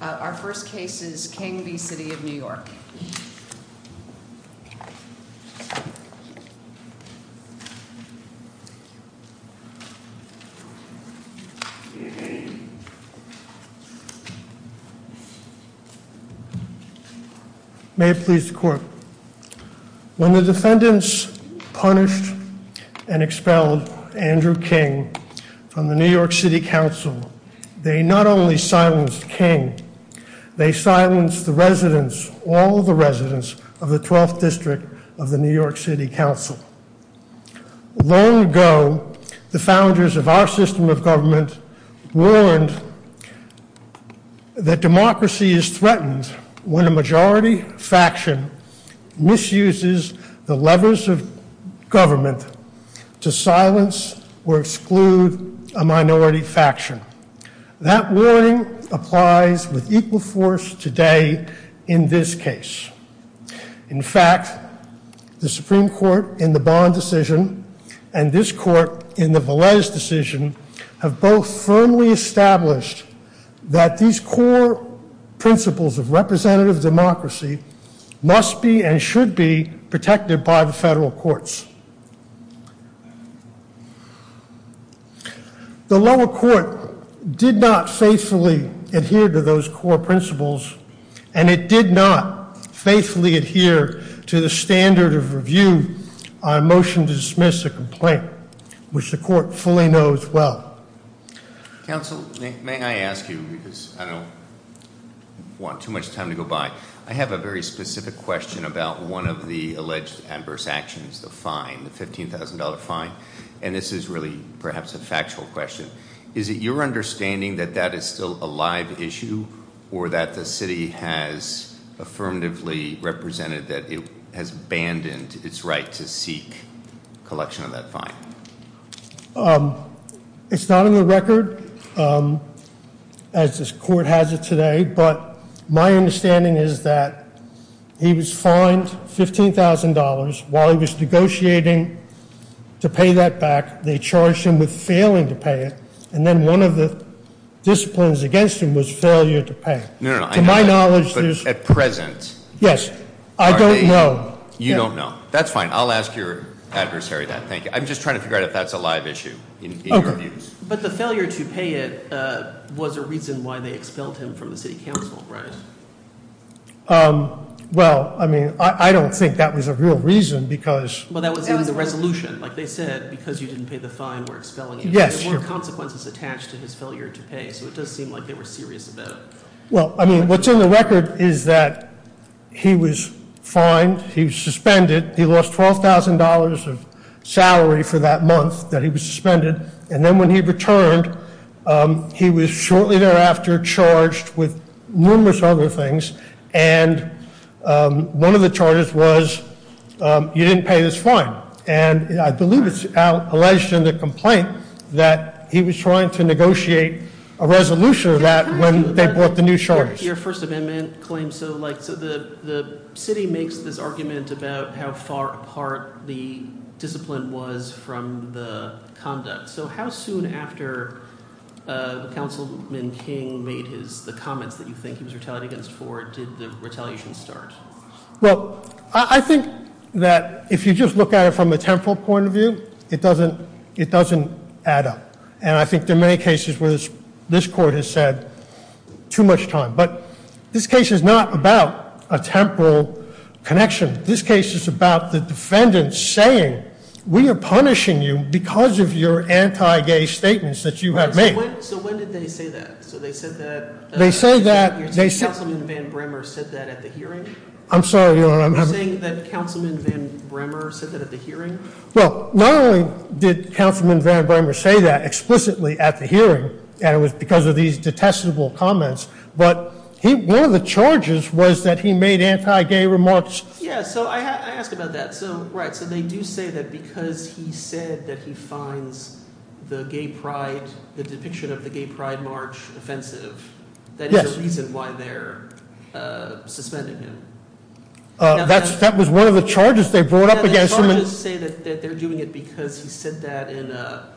Our first case is King v. City of New York. May it please the court. When the defendants punished and expelled Andrew King from the New York City Council, they not only silenced King, they silenced the residents, all the residents of the 12th District of the New York City Council. Long ago, the founders of our system of government warned that democracy is threatened when a majority faction misuses the levers of government to silence or exclude a minority faction. That warning applies with equal force today in this case. In fact, the Supreme Court in the Bond decision and this court in the Velez decision have both firmly established that these core principles of representative democracy must be and should be protected by the federal courts. The lower court did not faithfully adhere to those core principles and it did not faithfully adhere to the standard of review on a motion to dismiss a complaint, which the court fully knows well. Counsel, may I ask you, because I don't want too much time to go by, I have a very specific question about one of the alleged adverse actions, the fine, the $15,000 fine. And this is really perhaps a factual question. Is it your understanding that that is still a live issue or that the city has affirmatively represented that it has abandoned its right to seek collection of that fine? It's not on the record as this court has it today, but my understanding is that he was fined $15,000 while he was negotiating to pay that back. They charged him with failing to pay it. And then one of the disciplines against him was failure to pay. No, no, no. To my knowledge, there's. At present. Yes. I don't know. You don't know. That's fine. I'll ask your adversary that. Thank you. I'm just trying to figure out if that's a live issue. But the failure to pay it was a reason why they expelled him from the city council, right? Well, I mean, I don't think that was a real reason because. Well, that was in the resolution. Like they said, because you didn't pay the fine, we're expelling you. Yes. Consequences attached to his failure to pay. So it does seem like they were serious about it. Well, I mean, what's in the record is that he was fined. He was suspended. He lost $12,000 of salary for that month that he was suspended. And then when he returned, he was shortly thereafter charged with numerous other things. And one of the charges was you didn't pay this fine. And I believe it's alleged in the complaint that he was trying to negotiate a resolution of that when they bought the new. Your First Amendment claim, so the city makes this argument about how far apart the discipline was from the conduct. So how soon after Councilman King made the comments that you think he was retaliating against Ford did the retaliation start? Well, I think that if you just look at it from a temporal point of view, it doesn't add up. And I think there are many cases where this court has said too much time. But this case is not about a temporal connection. This case is about the defendant saying we are punishing you because of your anti-gay statements that you have made. So when did they say that? So they said that Councilman Van Bremer said that at the hearing? I'm sorry. You're saying that Councilman Van Bremer said that at the hearing? Well, not only did Councilman Van Bremer say that explicitly at the hearing, and it was because of these detestable comments, but one of the charges was that he made anti-gay remarks. Yeah, so I asked about that. So, right, so they do say that because he said that he fines the gay pride, the depiction of the gay pride march offensive, that is the reason why they're suspending him. That was one of the charges they brought up against him. The other charges say that they're doing it because he said that in a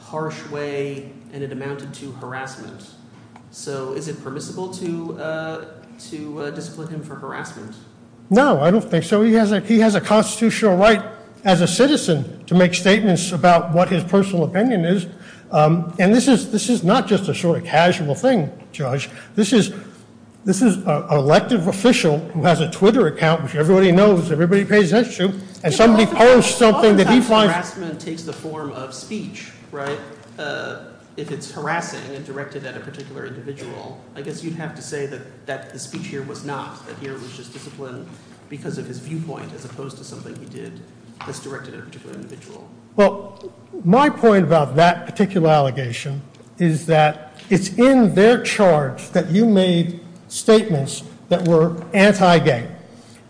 harsh way and it amounted to harassment. So is it permissible to discipline him for harassment? No, I don't think so. He has a constitutional right as a citizen to make statements about what his personal opinion is. And this is not just a sort of casual thing, Judge. This is an elected official who has a Twitter account, which everybody knows, everybody pays attention to, and somebody posts something that he finds- Oftentimes harassment takes the form of speech, right? If it's harassing and directed at a particular individual, I guess you'd have to say that the speech here was not, that here was just discipline because of his viewpoint as opposed to something he did that's directed at a particular individual. Well, my point about that particular allegation is that it's in their charge that you made statements that were anti-gay.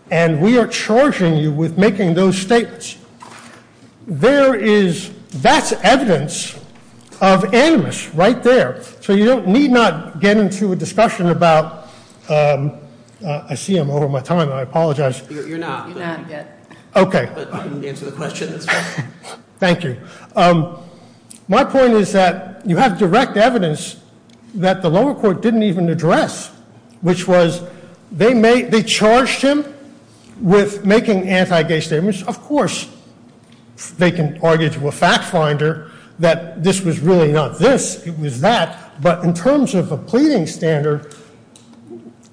And we are charging you with making those statements. There is- that's evidence of animus right there. So you need not get into a discussion about- I see I'm over my time. I apologize. You're not. Okay. Thank you. My point is that you have direct evidence that the lower court didn't even address, which was they made- they charged him with making anti-gay statements. Of course, they can argue to a fact finder that this was really not this, it was that. But in terms of a pleading standard,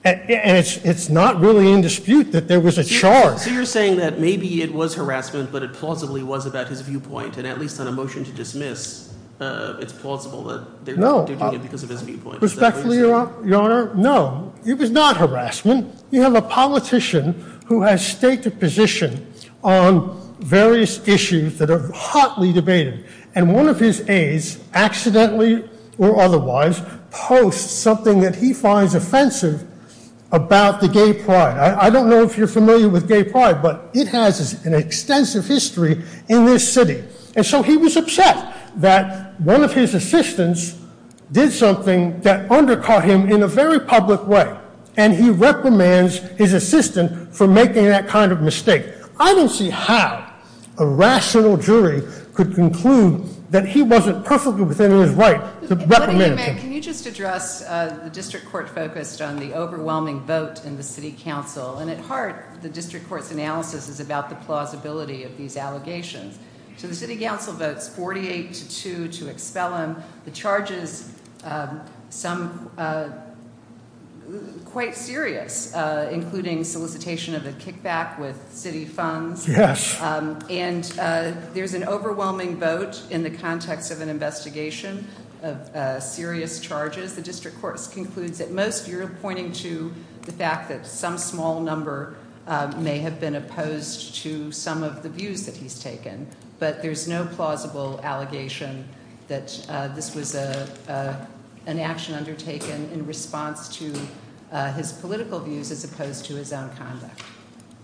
and it's not really in dispute that there was a charge- So you're saying that maybe it was harassment, but it plausibly was about his viewpoint, and at least on a motion to dismiss, it's plausible that they're judging him because of his viewpoint. Respectfully, Your Honor, no. It was not harassment. You have a politician who has staked a position on various issues that are hotly debated, and one of his aides accidentally or otherwise posts something that he finds offensive about the gay pride. I don't know if you're familiar with gay pride, but it has an extensive history in this city. And so he was upset that one of his assistants did something that undercut him in a very public way, and he recommends his assistant for making that kind of mistake. I don't see how a rational jury could conclude that he wasn't perfectly within his right to recommend- Can you just address the district court focused on the overwhelming vote in the city council? And at heart, the district court's analysis is about the plausibility of these allegations. So the city council votes 48 to 2 to expel him. The charge is quite serious, including solicitation of a kickback with city funds. Yes. And there's an overwhelming vote in the context of an investigation of serious charges. The district court concludes at most you're pointing to the fact that some small number may have been opposed to some of the views that he's taken. But there's no plausible allegation that this was an action undertaken in response to his political views as opposed to his own conduct.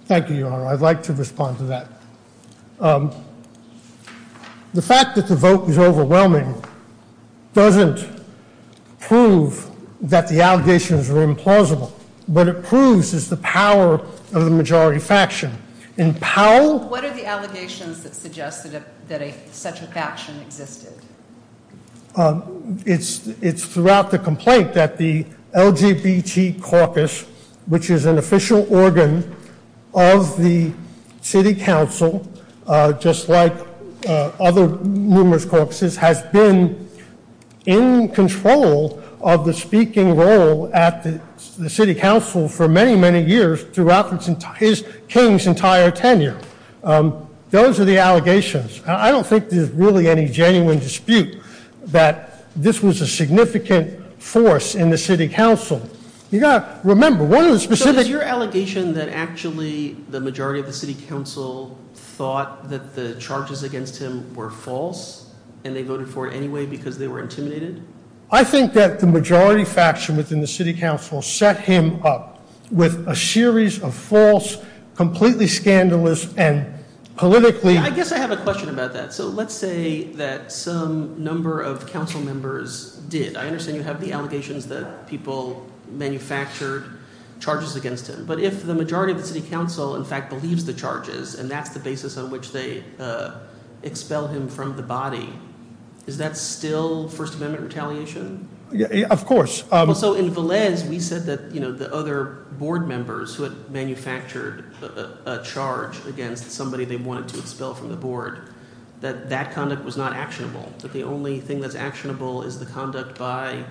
Thank you, Your Honor. I'd like to respond to that. The fact that the vote was overwhelming doesn't prove that the allegations were implausible. What it proves is the power of the majority faction. In Powell- What are the allegations that suggest that such a faction existed? It's throughout the complaint that the LGBT caucus, which is an official organ of the city council, just like other numerous caucuses, has been in control of the speaking role at the city council for many, many years, throughout his king's entire tenure. Those are the allegations. I don't think there's really any genuine dispute that this was a significant force in the city council. You've got to remember, one of the specific- So is your allegation that actually the majority of the city council thought that the charges against him were false, and they voted for it anyway because they were intimidated? I think that the majority faction within the city council set him up with a series of false, completely scandalous, and politically- I guess I have a question about that. So let's say that some number of council members did. I understand you have the allegations that people manufactured charges against him. But if the majority of the city council, in fact, believes the charges, and that's the basis on which they expel him from the body, is that still First Amendment retaliation? Of course. So in Velez, we said that the other board members who had manufactured a charge against somebody they wanted to expel from the board, that that conduct was not actionable, that the only thing that's actionable is the conduct by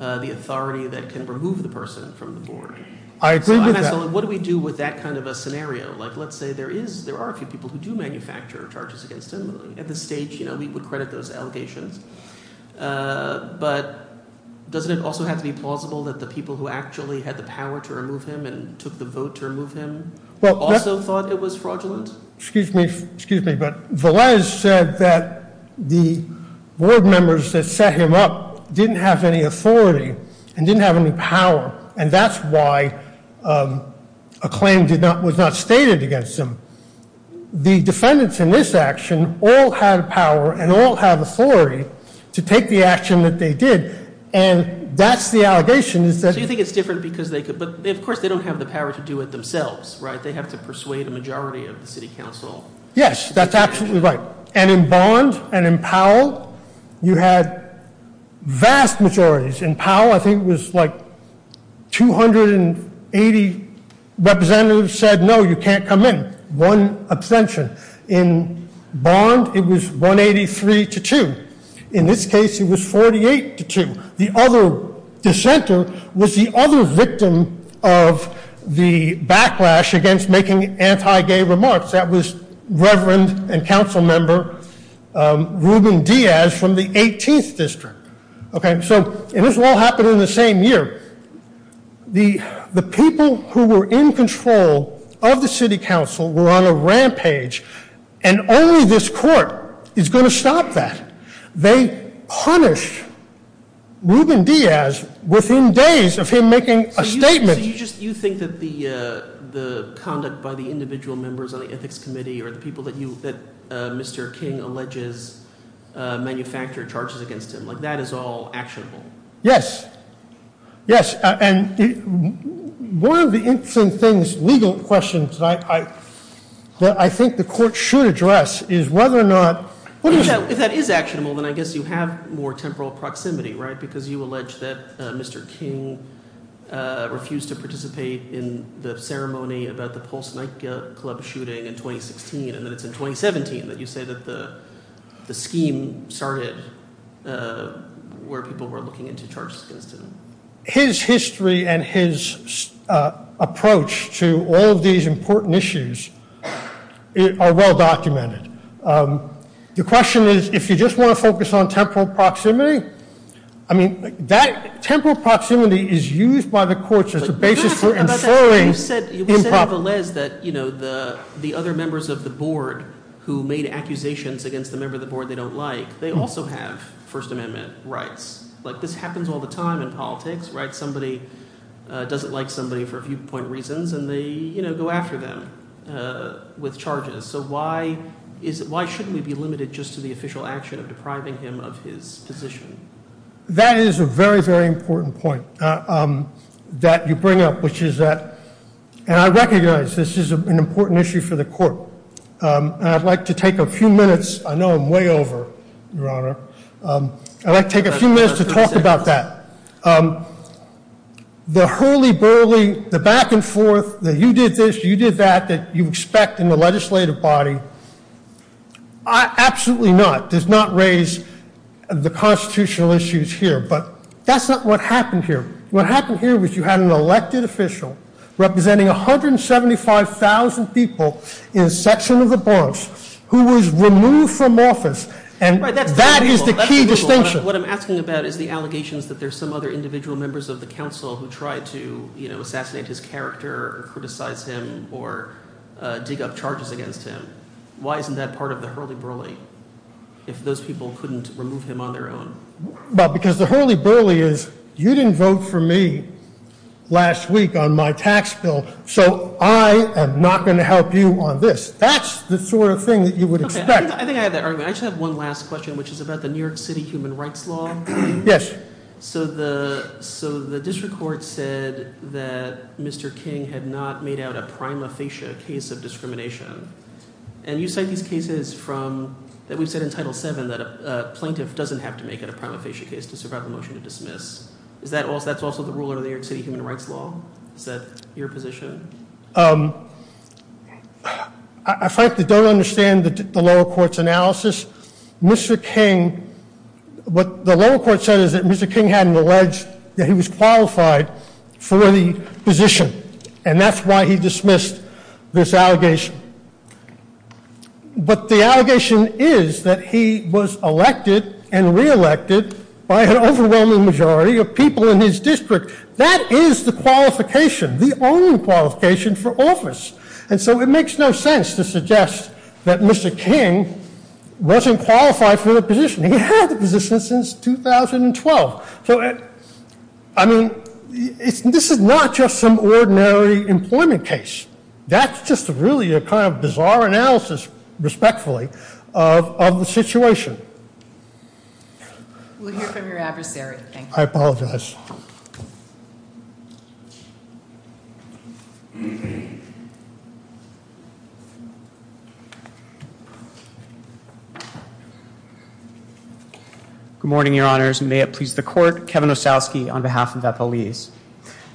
the authority that can remove the person from the board. I agree with that. So what do we do with that kind of a scenario? Let's say there are a few people who do manufacture charges against him. At this stage, we would credit those allegations. But doesn't it also have to be plausible that the people who actually had the power to remove him and took the vote to remove him also thought it was fraudulent? Excuse me, but Velez said that the board members that set him up didn't have any authority and didn't have any power, and that's why a claim was not stated against him. The defendants in this action all had power and all had authority to take the action that they did, and that's the allegation. So you think it's different because they could, but of course they don't have the power to do it themselves, right? They have to persuade a majority of the city council. Yes, that's absolutely right. And in Bond and in Powell, you had vast majorities. In Powell, I think it was like 280 representatives said, no, you can't come in, one abstention. In Bond, it was 183 to 2. In this case, it was 48 to 2. The other dissenter was the other victim of the backlash against making anti-gay remarks. That was Reverend and council member Ruben Diaz from the 18th district. Okay, so this all happened in the same year. The people who were in control of the city council were on a rampage, and only this court is going to stop that. They punished Ruben Diaz within days of him making a statement. So you think that the conduct by the individual members on the ethics committee or the people that Mr. King alleges manufactured charges against him, like that is all actionable? Yes, yes. And one of the interesting things, legal questions, that I think the court should address is whether or not- If that is actionable, then I guess you have more temporal proximity, right? Because you allege that Mr. King refused to participate in the ceremony about the Pulse nightclub shooting in 2016, and then it's in 2017 that you say that the scheme started where people were looking into charges against him. His history and his approach to all of these important issues are well documented. The question is, if you just want to focus on temporal proximity, I mean, temporal proximity is used by the courts as a basis for inferring improperly. You said, Valez, that the other members of the board who made accusations against the member of the board they don't like, they also have First Amendment rights. This happens all the time in politics, right? Somebody doesn't like somebody for a few point reasons, and they go after them with charges. So why shouldn't we be limited just to the official action of depriving him of his position? That is a very, very important point that you bring up, which is that- And I recognize this is an important issue for the court, and I'd like to take a few minutes- I know I'm way over, Your Honor. I'd like to take a few minutes to talk about that. The hurly burly, the back and forth, that you did this, you did that, that you expect in the legislative body, absolutely not, does not raise the constitutional issues here. But that's not what happened here. What happened here was you had an elected official representing 175,000 people in a section of the Bronx who was removed from office. And that is the key distinction. What I'm asking about is the allegations that there's some other individual members of the council who tried to assassinate his character or criticize him or dig up charges against him. Why isn't that part of the hurly burly, if those people couldn't remove him on their own? Because the hurly burly is, you didn't vote for me last week on my tax bill, so I am not going to help you on this. That's the sort of thing that you would expect. I think I have that argument. I just have one last question, which is about the New York City Human Rights Law. Yes. So the district court said that Mr. King had not made out a prima facie case of discrimination. And you cite these cases from, that we've said in Title VII, that a plaintiff doesn't have to make out a prima facie case to survive a motion to dismiss. Is that also the ruler of the New York City Human Rights Law? Is that your position? I frankly don't understand the lower court's analysis. Mr. King, what the lower court said is that Mr. King hadn't alleged that he was qualified for the position, and that's why he dismissed this allegation. But the allegation is that he was elected and reelected by an overwhelming majority of people in his district. That is the qualification, the only qualification for office. And so it makes no sense to suggest that Mr. King wasn't qualified for the position. He had the position since 2012. So, I mean, this is not just some ordinary employment case. That's just really a kind of bizarre analysis, respectfully, of the situation. We'll hear from your adversary. I apologize. Good morning, Your Honors. May it please the court, Kevin Osowski on behalf of Bethel Lease.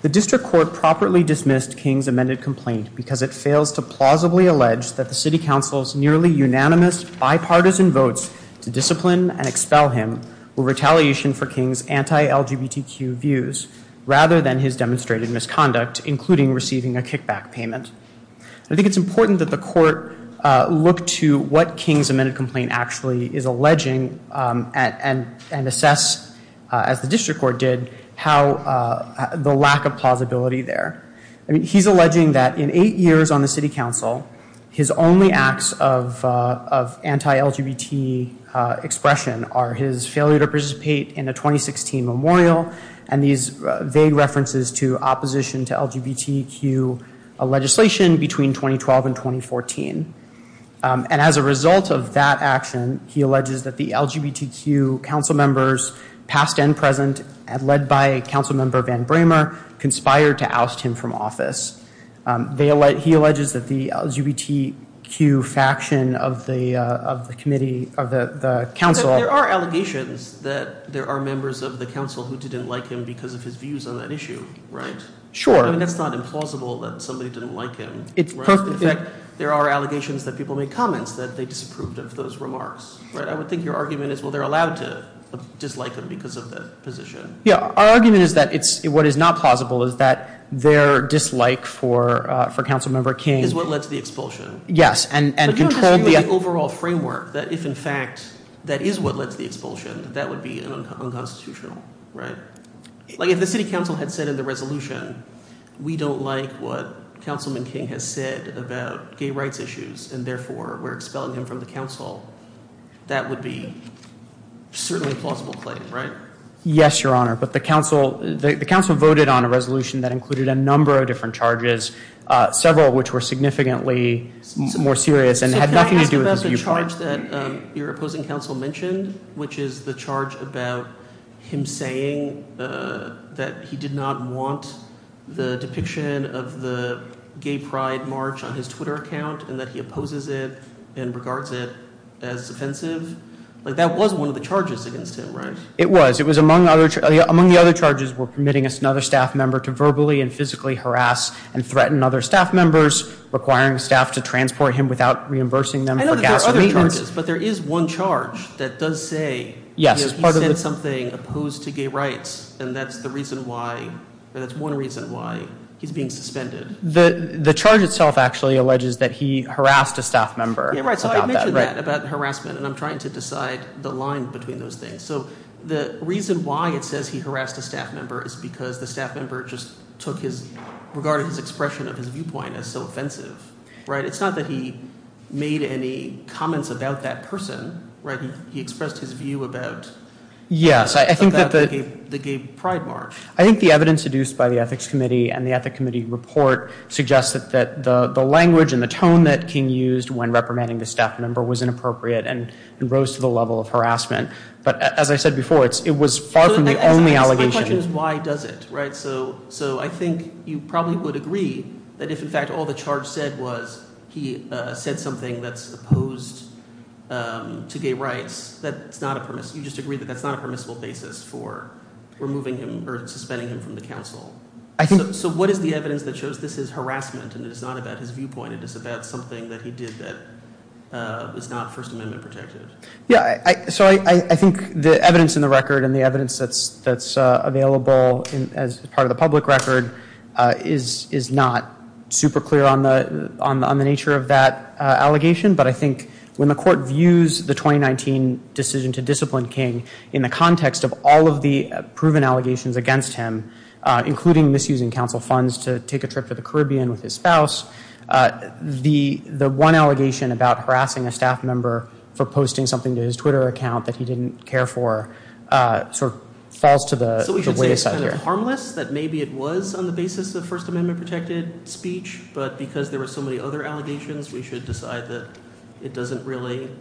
The district court properly dismissed King's amended complaint because it fails to plausibly allege that the city council's nearly unanimous bipartisan votes to discipline and expel him were retaliation for King's anti-LGBTQ views rather than his demonstrated misconduct, including receiving a kickback payment. I think it's important that the court look to what King's amended complaint actually is alleging and assess, as the district court did, how the lack of plausibility there. He's alleging that in eight years on the city council, his only acts of anti-LGBT expression are his failure to participate in a 2016 memorial and these vague references to opposition to LGBTQ legislation between 2012 and 2014. And as a result of that action, he alleges that the LGBTQ council members, past and present, led by Council Member Van Bramer, conspired to oust him from office. He alleges that the LGBTQ faction of the committee, of the council. There are allegations that there are members of the council who didn't like him because of his views on that issue, right? Sure. I mean, that's not implausible that somebody didn't like him. In fact, there are allegations that people make comments that they disapproved of those remarks. I would think your argument is, well, they're allowed to dislike him because of that position. Yeah. Our argument is that what is not plausible is that their dislike for Council Member King. Is what led to the expulsion. Yes. But you don't disagree with the overall framework that if, in fact, that is what led to the expulsion, that would be unconstitutional, right? Like, if the city council had said in the resolution, we don't like what Councilman King has said about gay rights issues and, therefore, we're expelling him from the council, that would be certainly a plausible claim, right? Yes, Your Honor. But the council voted on a resolution that included a number of different charges, several of which were significantly more serious and had nothing to do with his viewpoint. So can I ask about the charge that your opposing council mentioned, which is the charge about him saying that he did not want the depiction of the gay pride march on his Twitter account, and that he opposes it and regards it as offensive? Like, that was one of the charges against him, right? It was. It was among the other charges were permitting another staff member to verbally and physically harass and threaten other staff members, requiring staff to transport him without reimbursing them for gas and maintenance. I know that there are other charges, but there is one charge that does say he said something opposed to gay rights, and that's the reason why, that's one reason why he's being suspended. The charge itself actually alleges that he harassed a staff member. Right, so I mentioned that about harassment, and I'm trying to decide the line between those things. So the reason why it says he harassed a staff member is because the staff member just took his, regarded his expression of his viewpoint as so offensive, right? It's not that he made any comments about that person, right? He expressed his view about the gay pride march. I think the evidence seduced by the Ethics Committee and the Ethics Committee report suggests that the language and the tone that King used when reprimanding the staff member was inappropriate and rose to the level of harassment. But as I said before, it was far from the only allegation. My question is why does it, right? So I think you probably would agree that if, in fact, all the charge said was he said something that's opposed to gay rights, you just agree that that's not a permissible basis for removing him or suspending him from the council. So what is the evidence that shows this is harassment and it is not about his viewpoint, it is about something that he did that is not First Amendment protected? Yeah. So I think the evidence in the record and the evidence that's available as part of the public record is not super clear on the nature of that allegation. But I think when the court views the 2019 decision to discipline King in the context of all of the proven allegations against him, including misusing council funds to take a trip to the Caribbean with his spouse, the one allegation about harassing a staff member for posting something to his Twitter account that he didn't care for sort of falls to the wayside here. So we should say it's harmless, that maybe it was on the basis of First Amendment protected speech, but because there were so many other allegations, we should decide that it doesn't relate?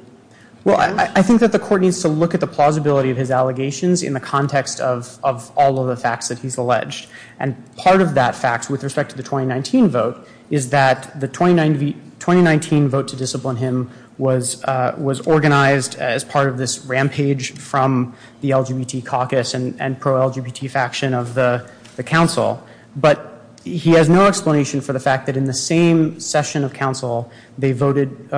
Well, I think that the court needs to look at the plausibility of his allegations in the context of all of the facts that he's alleged. And part of that fact, with respect to the 2019 vote, is that the 2019 vote to discipline him was organized as part of this rampage from the LGBT caucus and pro-LGBT faction of the council. But he has no explanation for the fact that in the same session of council, they voted,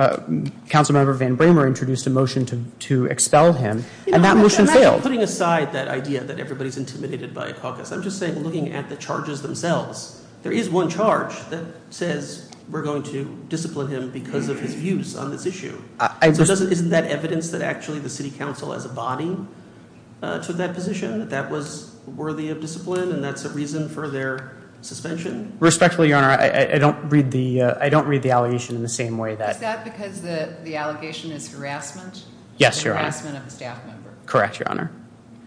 Council Member Van Bramer introduced a motion to expel him, and that motion failed. So putting aside that idea that everybody's intimidated by a caucus, I'm just saying, looking at the charges themselves, there is one charge that says we're going to discipline him because of his views on this issue. Isn't that evidence that actually the city council has a body to that position, that that was worthy of discipline, and that's a reason for their suspension? Respectfully, Your Honor, I don't read the allegation in the same way that— Is that because the allegation is harassment? Yes, Your Honor. Harassment of a staff member. Correct, Your Honor.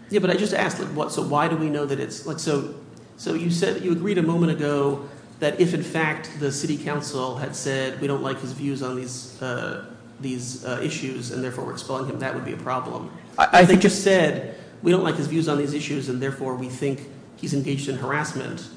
Yeah, but I just asked, so why do we know that it's—so you said that you agreed a moment ago that if, in fact, the city council had said, We don't like his views on these issues, and therefore we're expelling him, that would be a problem. If they just said, we don't like his views on these issues, and therefore we think he's engaged in harassment,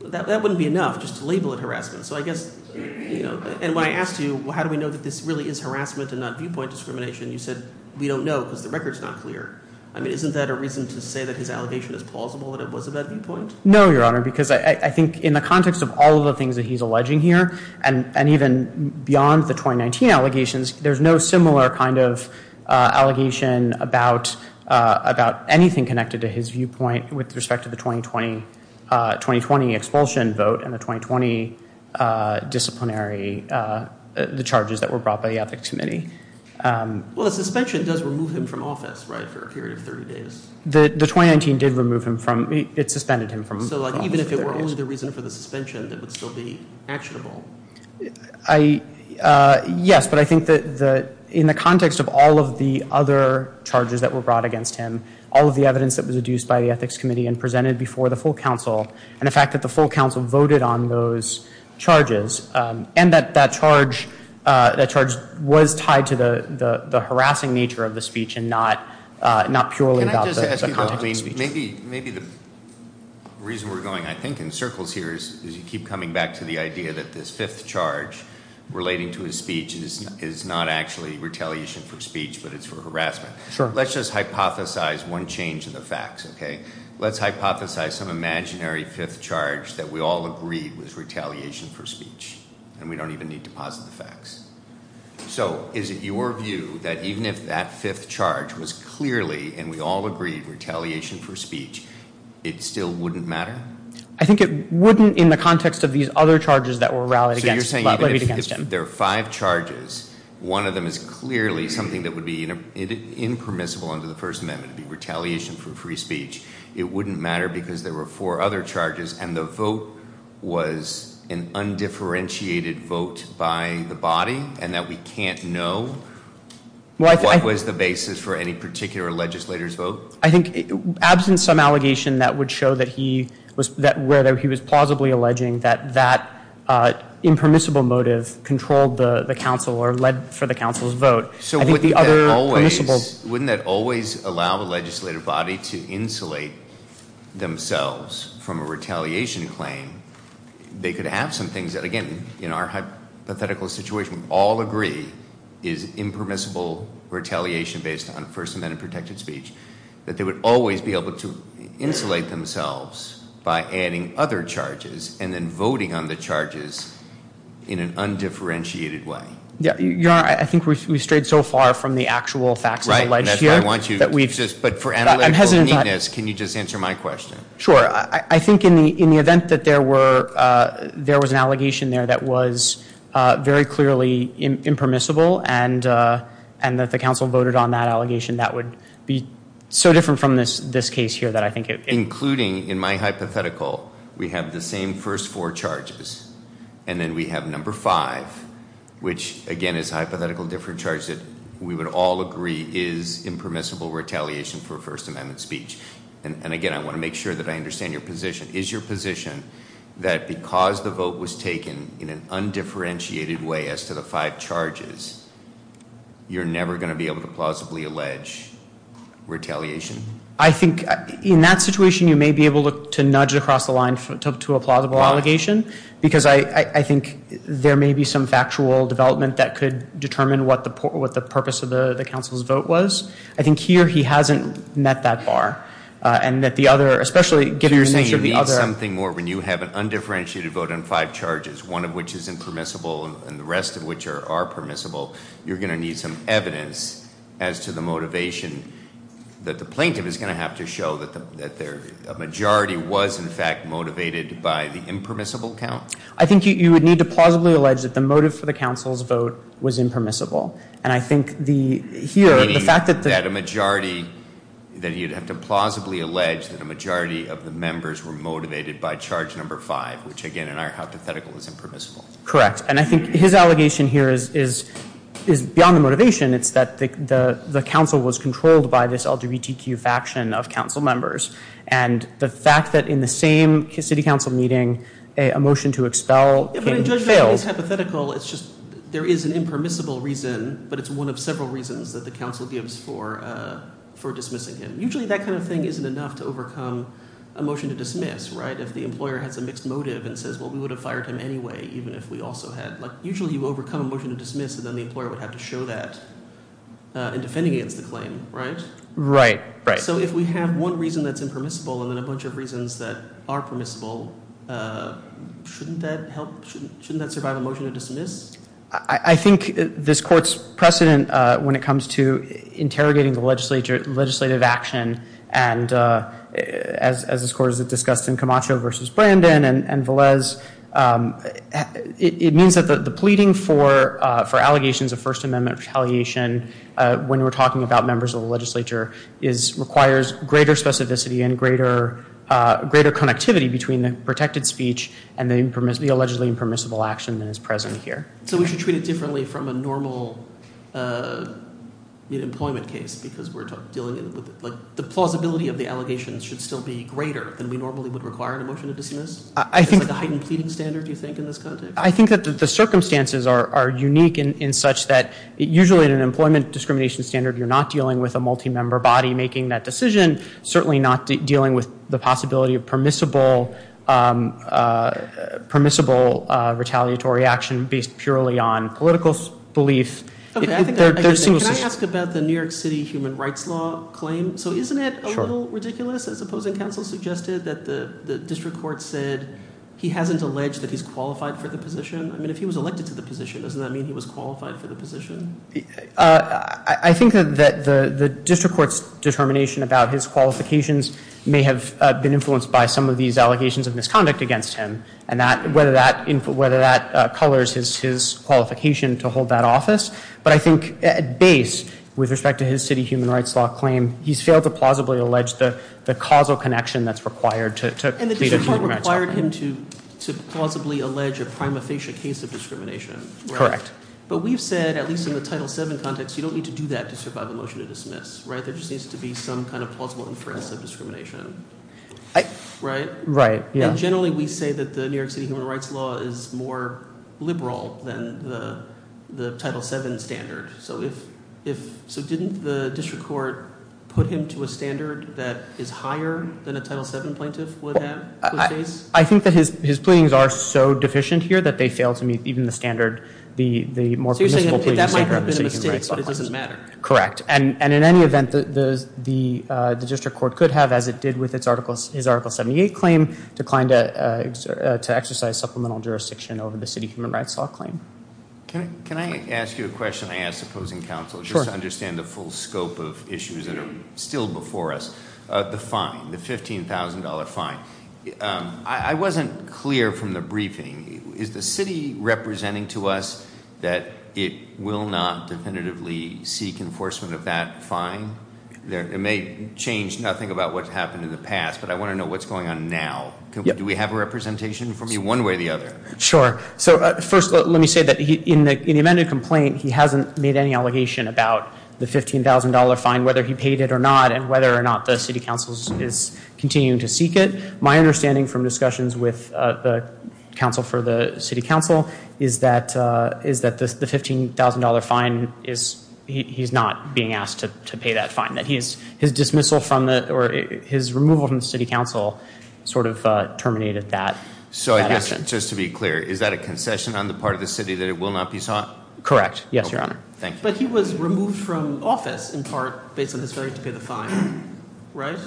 that wouldn't be enough just to label it harassment. So I guess—and when I asked you, well, how do we know that this really is harassment and not viewpoint discrimination, you said, we don't know because the record's not clear. I mean, isn't that a reason to say that his allegation is plausible that it was a bad viewpoint? No, Your Honor, because I think in the context of all of the things that he's alleging here, and even beyond the 2019 allegations, there's no similar kind of allegation about anything connected to his viewpoint with respect to the 2020 expulsion vote and the 2020 disciplinary—the charges that were brought by the Ethics Committee. Well, the suspension does remove him from office, right, for a period of 30 days. The 2019 did remove him from—it suspended him from office for 30 days. So, like, even if it were only the reason for the suspension, it would still be actionable. Yes, but I think that in the context of all of the other charges that were brought against him, all of the evidence that was adduced by the Ethics Committee and presented before the full counsel, and the fact that the full counsel voted on those charges, and that that charge was tied to the harassing nature of the speech and not purely about the context of the speech. Maybe the reason we're going, I think, in circles here is you keep coming back to the idea that this fifth charge relating to his speech is not actually retaliation for speech, but it's for harassment. Let's just hypothesize one change in the facts, okay? Let's hypothesize some imaginary fifth charge that we all agreed was retaliation for speech, and we don't even need to posit the facts. So, is it your view that even if that fifth charge was clearly, and we all agreed, retaliation for speech, it still wouldn't matter? I think it wouldn't in the context of these other charges that were rallied against him. So you're saying even if there are five charges, one of them is clearly something that would be impermissible under the First Amendment, it would be retaliation for free speech. It wouldn't matter because there were four other charges, and the vote was an undifferentiated vote by the body, and that we can't know what was the basis for any particular legislator's vote? I think, absent some allegation that would show that he was, whether he was plausibly alleging that that impermissible motive controlled the counsel or led for the counsel's vote. So wouldn't that always allow the legislative body to insulate themselves from a retaliation claim? They could have some things that, again, in our hypothetical situation, all agree is impermissible retaliation based on First Amendment protected speech, that they would always be able to insulate themselves by adding other charges and then voting on the charges in an undifferentiated way. Your Honor, I think we've strayed so far from the actual facts as alleged here. But for analytical neatness, can you just answer my question? Sure. I think in the event that there was an allegation there that was very clearly impermissible and that the counsel voted on that allegation, that would be so different from this case here. Including, in my hypothetical, we have the same first four charges and then we have number five, which again is a hypothetical different charge that we would all agree is impermissible retaliation for First Amendment speech. And again, I want to make sure that I understand your position. Is your position that because the vote was taken in an undifferentiated way as to the five charges, you're never going to be able to plausibly allege retaliation? I think in that situation you may be able to nudge across the line to a plausible allegation. Why? Because I think there may be some factual development that could determine what the purpose of the counsel's vote was. I think here he hasn't met that bar. And that the other, especially given the nature of the other... So you're saying you need something more when you have an undifferentiated vote on five charges, one of which is impermissible and the rest of which are permissible, you're going to need some evidence as to the motivation that the plaintiff is going to have to show that a majority was in fact motivated by the impermissible count? I think you would need to plausibly allege that the motive for the counsel's vote was impermissible. Meaning that a majority, that you'd have to plausibly allege that a majority of the members were motivated by charge number five, which again in our hypothetical is impermissible. Correct. And I think his allegation here is beyond the motivation. It's that the counsel was controlled by this LGBTQ faction of counsel members. And the fact that in the same city council meeting a motion to expel him failed. But in judgment, it's hypothetical. It's just there is an impermissible reason, but it's one of several reasons that the counsel gives for dismissing him. Usually that kind of thing isn't enough to overcome a motion to dismiss, right? If the employer has a mixed motive and says, well, we would have fired him anyway even if we also had. Usually you overcome a motion to dismiss and then the employer would have to show that in defending against the claim, right? Right. So if we have one reason that's impermissible and then a bunch of reasons that are permissible, shouldn't that help, shouldn't that survive a motion to dismiss? I think this court's precedent when it comes to interrogating the legislative action and as this court has discussed in Camacho versus Brandon and Velez, it means that the pleading for allegations of First Amendment retaliation when we're talking about members of the legislature requires greater specificity and greater connectivity between the protected speech and the allegedly impermissible action that is present here. So we should treat it differently from a normal mid-employment case because we're dealing with the plausibility of the allegations should still be greater than we normally would require in a motion to dismiss? I think that the circumstances are unique in such that usually in an employment discrimination standard you're not dealing with a multi-member body making that decision, certainly not dealing with the possibility of permissible retaliatory action based purely on political belief. Can I ask about the New York City human rights law claim? So isn't it a little ridiculous, as opposing counsel suggested, that the district court said he hasn't alleged that he's qualified for the position? I mean, if he was elected to the position, doesn't that mean he was qualified for the position? I think that the district court's determination about his qualifications may have been influenced by some of these allegations of misconduct against him and whether that colors his qualification to hold that office. But I think at base, with respect to his city human rights law claim, he's failed to plausibly allege the causal connection that's required to meet a human rights law claim. And the district court required him to plausibly allege a prima facie case of discrimination? Correct. But we've said, at least in the Title VII context, you don't need to do that to survive a motion to dismiss, right? There just needs to be some kind of plausible inference of discrimination, right? Right, yeah. And generally we say that the New York City human rights law is more liberal than the Title VII standard. So didn't the district court put him to a standard that is higher than a Title VII plaintiff would have? I think that his pleadings are so deficient here that they fail to meet even the standard, the more permissible pleading standard. So you're saying that might have been a mistake, but it doesn't matter? Correct. And in any event, the district court could have, as it did with his Article 78 claim, declined to exercise supplemental jurisdiction over the city human rights law claim. Can I ask you a question I ask opposing counsel? Sure. Just to understand the full scope of issues that are still before us. The fine, the $15,000 fine. I wasn't clear from the briefing. Is the city representing to us that it will not definitively seek enforcement of that fine? It may change nothing about what's happened in the past, but I want to know what's going on now. Do we have a representation from you one way or the other? Sure. So first, let me say that in the amended complaint, he hasn't made any allegation about the $15,000 fine, whether he paid it or not, and whether or not the city council is continuing to seek it. My understanding from discussions with the council for the city council is that the $15,000 fine, he's not being asked to pay that fine. His dismissal or his removal from the city council sort of terminated that action. So just to be clear, is that a concession on the part of the city that it will not be sought? Correct. Yes, Your Honor. But he was removed from office in part based on his failure to pay the fine, right?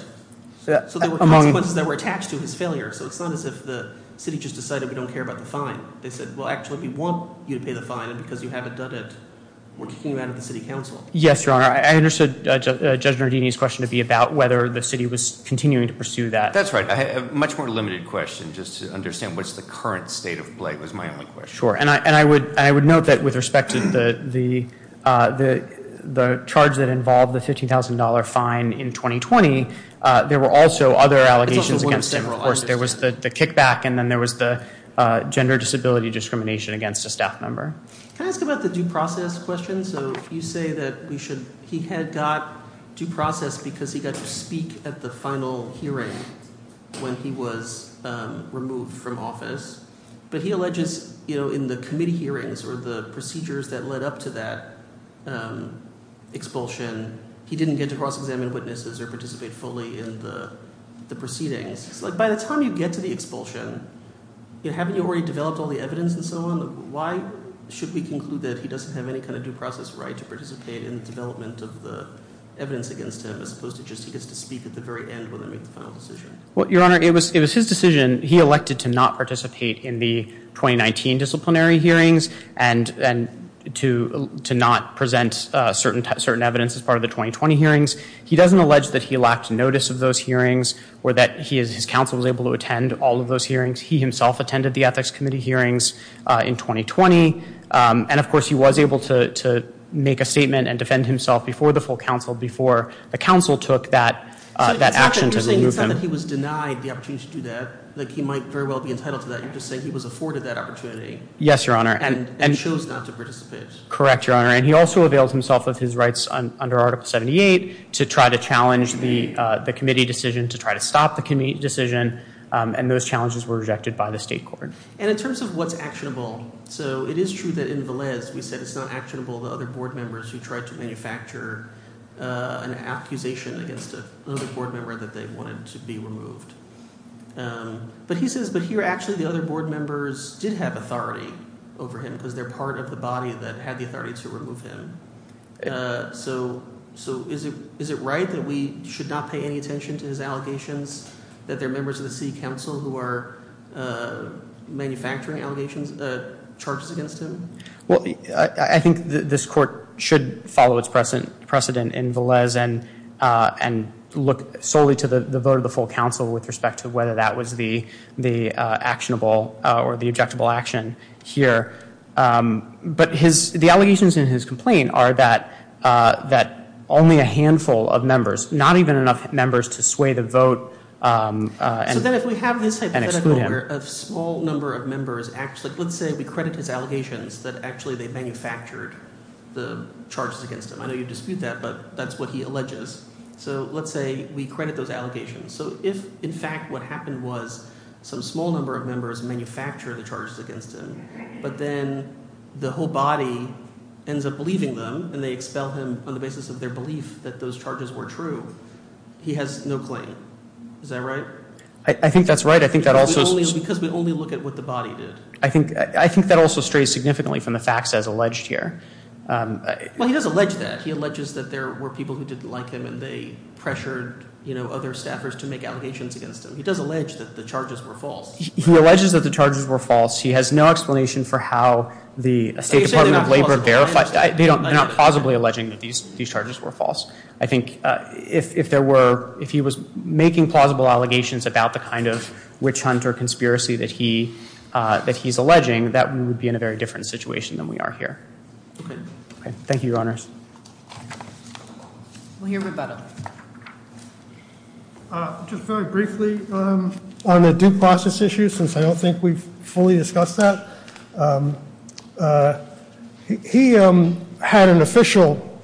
So there were consequences that were attached to his failure. So it's not as if the city just decided we don't care about the fine. They said, well, actually, we want you to pay the fine, and because you haven't done it, we're kicking you out of the city council. Yes, Your Honor. I understood Judge Nardini's question to be about whether the city was continuing to pursue that. That's right. A much more limited question, just to understand what's the current state of play, was my only question. Sure, and I would note that with respect to the charge that involved the $15,000 fine in 2020, there were also other allegations against him. Of course, there was the kickback, and then there was the gender disability discrimination against a staff member. Can I ask about the due process question? So you say that he had got due process because he got to speak at the final hearing when he was removed from office. But he alleges in the committee hearings or the procedures that led up to that expulsion, he didn't get to cross-examine witnesses or participate fully in the proceedings. By the time you get to the expulsion, haven't you already developed all the evidence and so on? Why should we conclude that he doesn't have any kind of due process right to participate in the development of the evidence against him as opposed to just he gets to speak at the very end when they make the final decision? Well, Your Honor, it was his decision. He elected to not participate in the 2019 disciplinary hearings and to not present certain evidence as part of the 2020 hearings. He doesn't allege that he lacked notice of those hearings or that his counsel was able to attend all of those hearings. He himself attended the Ethics Committee hearings in 2020. And, of course, he was able to make a statement and defend himself before the full counsel, before the counsel took that action to remove him. But he was denied the opportunity to do that. He might very well be entitled to that. You're just saying he was afforded that opportunity. Yes, Your Honor. And chose not to participate. Correct, Your Honor. And he also availed himself of his rights under Article 78 to try to challenge the committee decision, to try to stop the committee decision. And those challenges were rejected by the state court. And in terms of what's actionable, so it is true that in Velez we said it's not actionable to other board members who tried to manufacture an accusation against another board member that they wanted to be removed. But he says – but here actually the other board members did have authority over him because they're part of the body that had the authority to remove him. So is it right that we should not pay any attention to his allegations that there are members of the city council who are manufacturing allegations, charges against him? Well, I think this court should follow its precedent in Velez and look solely to the vote of the full counsel with respect to whether that was the actionable or the objectable action here. But his – the allegations in his complaint are that only a handful of members, not even enough members to sway the vote and exclude him. So then if we have this hypothetical where a small number of members actually – let's say we credit his allegations that actually they manufactured the charges against him. I know you dispute that, but that's what he alleges. So let's say we credit those allegations. So if in fact what happened was some small number of members manufactured the charges against him, but then the whole body ends up believing them and they expel him on the basis of their belief that those charges were true, he has no claim. Is that right? I think that's right. I think that also – Because we only look at what the body did. I think that also strays significantly from the facts as alleged here. Well, he does allege that. He alleges that there were people who didn't like him and they pressured other staffers to make allegations against him. He does allege that the charges were false. He alleges that the charges were false. He has no explanation for how the State Department of Labor verified – They're not plausibly alleging that these charges were false. I think if there were – if he was making plausible allegations about the kind of witch hunt or conspiracy that he's alleging, that would be in a very different situation than we are here. Okay. Okay. We'll hear rebuttal. Just very briefly on the due process issue, since I don't think we've fully discussed that. He had an official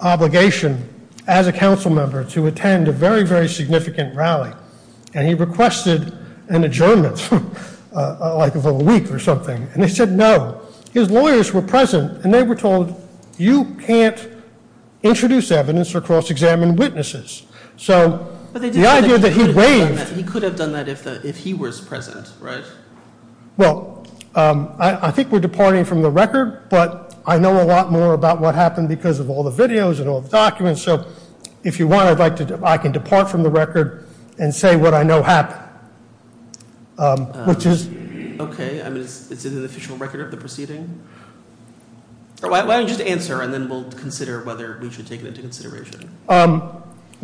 obligation as a council member to attend a very, very significant rally, and he requested an adjournment, like of a week or something, and they said no. His lawyers were present, and they were told, you can't introduce evidence or cross-examine witnesses. So the idea that he waived – He could have done that if he was present, right? Well, I think we're departing from the record, but I know a lot more about what happened because of all the videos and all the documents. So if you want, I'd like to – I can depart from the record and say what I know happened, which is – Okay. I mean, is it in the official record of the proceeding? Why don't you just answer, and then we'll consider whether we should take it into consideration.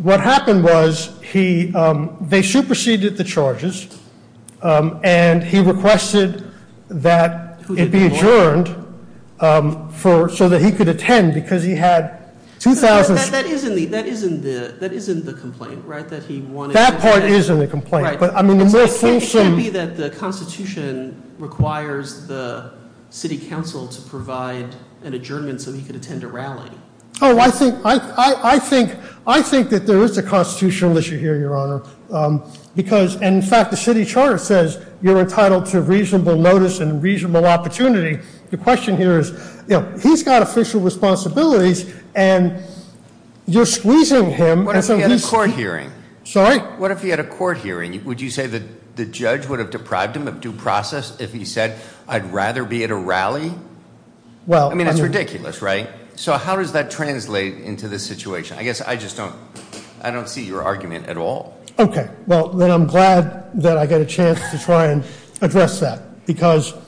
What happened was they superseded the charges, and he requested that it be adjourned so that he could attend because he had 2,000 – That isn't the complaint, right, that he wanted – That part is in the complaint. Right. It can't be that the Constitution requires the city council to provide an adjournment so he could attend a rally. Oh, I think – I think that there is a constitutional issue here, Your Honor, because – and in fact, the city charter says you're entitled to reasonable notice and reasonable opportunity. The question here is, you know, he's got official responsibilities, and you're squeezing him, and so he's – What if he had a court hearing? Sorry? What if he had a court hearing? Would you say that the judge would have deprived him of due process if he said, I'd rather be at a rally? Well – I mean, that's ridiculous, right? So how does that translate into this situation? I guess I just don't – I don't see your argument at all. Okay. Well, then I'm glad that I got a chance to try and address that because –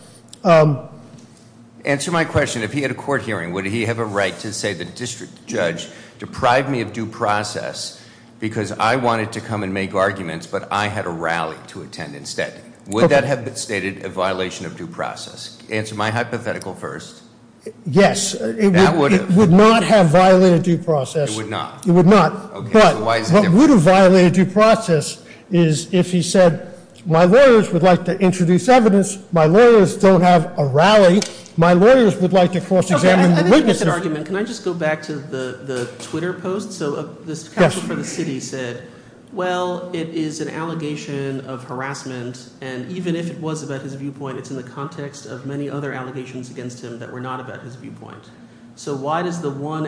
Answer my question. If he had a court hearing, would he have a right to say the district judge deprived me of due process because I wanted to come and make arguments, but I had a rally to attend instead? Would that have been stated a violation of due process? Answer my hypothetical first. Yes. That would have. It would not have violated due process. It would not. Okay. So why is it different? What I would have violated due process is if he said, my lawyers would like to introduce evidence. My lawyers don't have a rally. My lawyers would like to cross-examine the witnesses. Okay. I didn't make an argument. Can I just go back to the Twitter post? Yes. So this counsel for the city said, well, it is an allegation of harassment, and even if it was about his viewpoint, it's in the context of many other allegations against him that were not about his viewpoint. So why does the one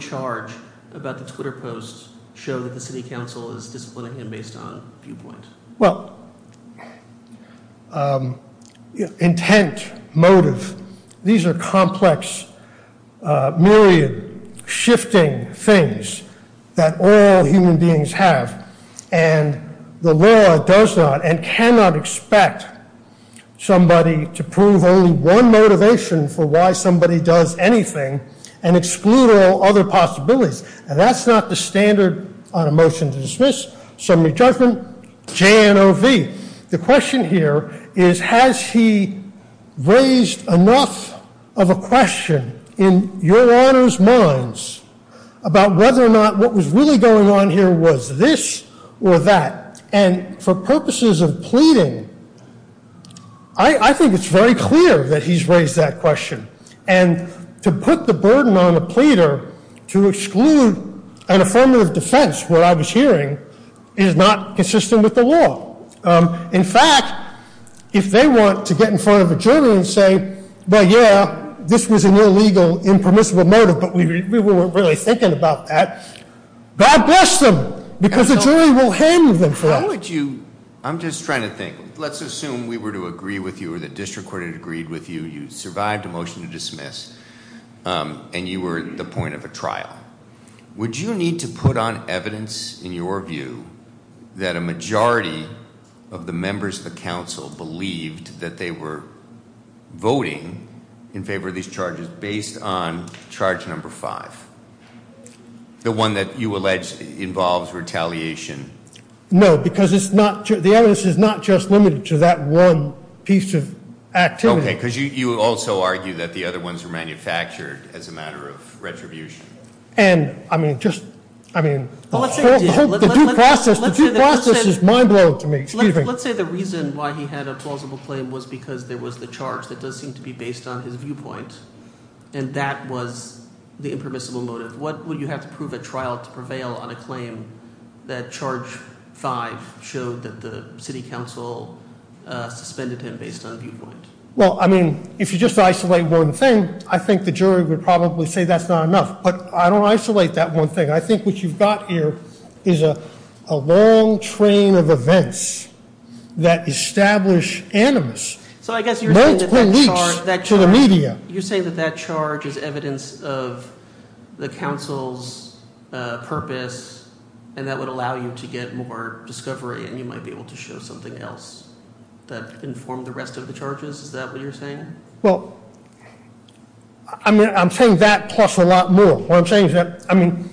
charge about the Twitter post show that the city counsel is disciplining him based on viewpoint? Well, intent, motive, these are complex, myriad, shifting things that all human beings have. And the law does not and cannot expect somebody to prove only one motivation for why somebody does anything and exclude all other possibilities. And that's not the standard on a motion to dismiss, summary judgment, JNOV. The question here is, has he raised enough of a question in your Honor's minds about whether or not what was really going on here was this or that? And for purposes of pleading, I think it's very clear that he's raised that question. And to put the burden on a pleader to exclude an affirmative defense, what I was hearing, is not consistent with the law. In fact, if they want to get in front of a jury and say, well, yeah, this was an illegal, impermissible motive, but we weren't really thinking about that, God bless them, because the jury will handle them for that. How would you, I'm just trying to think. Let's assume we were to agree with you or the district court had agreed with you, you survived a motion to dismiss, and you were at the point of a trial. Would you need to put on evidence in your view that a majority of the members of the council believed that they were voting in favor of these charges based on charge number five? The one that you allege involves retaliation. No, because the evidence is not just limited to that one piece of activity. Okay, because you also argue that the other ones were manufactured as a matter of retribution. And, I mean, just, I mean, the whole process is mind blowing to me, excuse me. Let's say the reason why he had a plausible claim was because there was the charge that does seem to be based on his viewpoint, and that was the impermissible motive. What would you have to prove at trial to prevail on a claim that charge five showed that the city council suspended him based on viewpoint? Well, I mean, if you just isolate one thing, I think the jury would probably say that's not enough. But I don't isolate that one thing. I think what you've got here is a long train of events that establish animus. To the media. The council's purpose, and that would allow you to get more discovery, and you might be able to show something else that informed the rest of the charges, is that what you're saying? Well, I'm saying that plus a lot more. What I'm saying is that, I mean,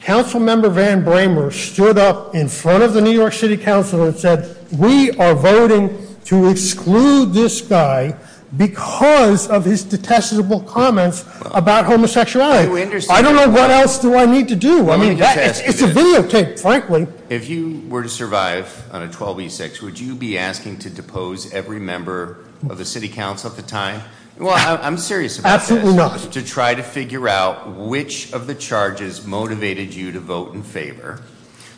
Council Member Van Bramer stood up in front of the New York City Council and said we are voting to exclude this guy because of his detestable comments about homosexuality. I don't know what else do I need to do. I mean, it's a video tape, frankly. If you were to survive on a 12B6, would you be asking to depose every member of the city council at the time? Well, I'm serious about this. Absolutely not. To try to figure out which of the charges motivated you to vote in favor.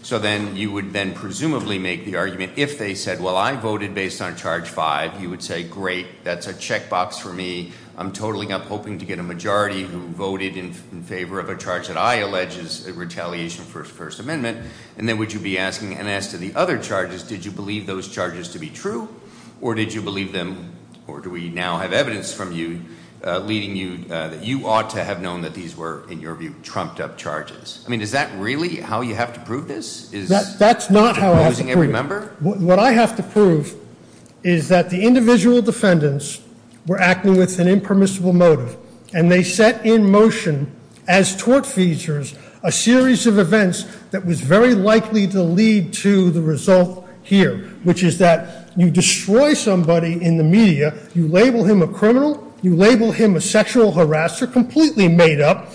So then you would then presumably make the argument, if they said, well, I voted based on charge five, you would say, great, that's a checkbox for me. I'm totaling up hoping to get a majority who voted in favor of a charge that I allege is a retaliation for his first amendment. And then would you be asking, and as to the other charges, did you believe those charges to be true? Or did you believe them, or do we now have evidence from you leading you that you ought to have known that these were, in your view, trumped up charges? I mean, is that really how you have to prove this? Is deposing every member? What I have to prove is that the individual defendants were acting with an impermissible motive. And they set in motion, as tort features, a series of events that was very likely to lead to the result here. Which is that you destroy somebody in the media, you label him a criminal, you label him a sexual harasser, completely made up,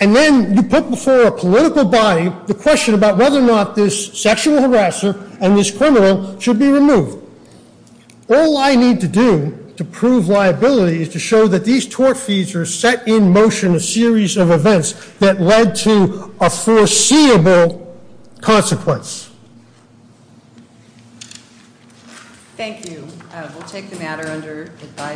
and then you put before a political body the question about whether or not this sexual harasser and this criminal should be removed. All I need to do to prove liability is to show that these tort features set in motion a series of events that led to a foreseeable consequence. Thank you. We'll take the matter under advice.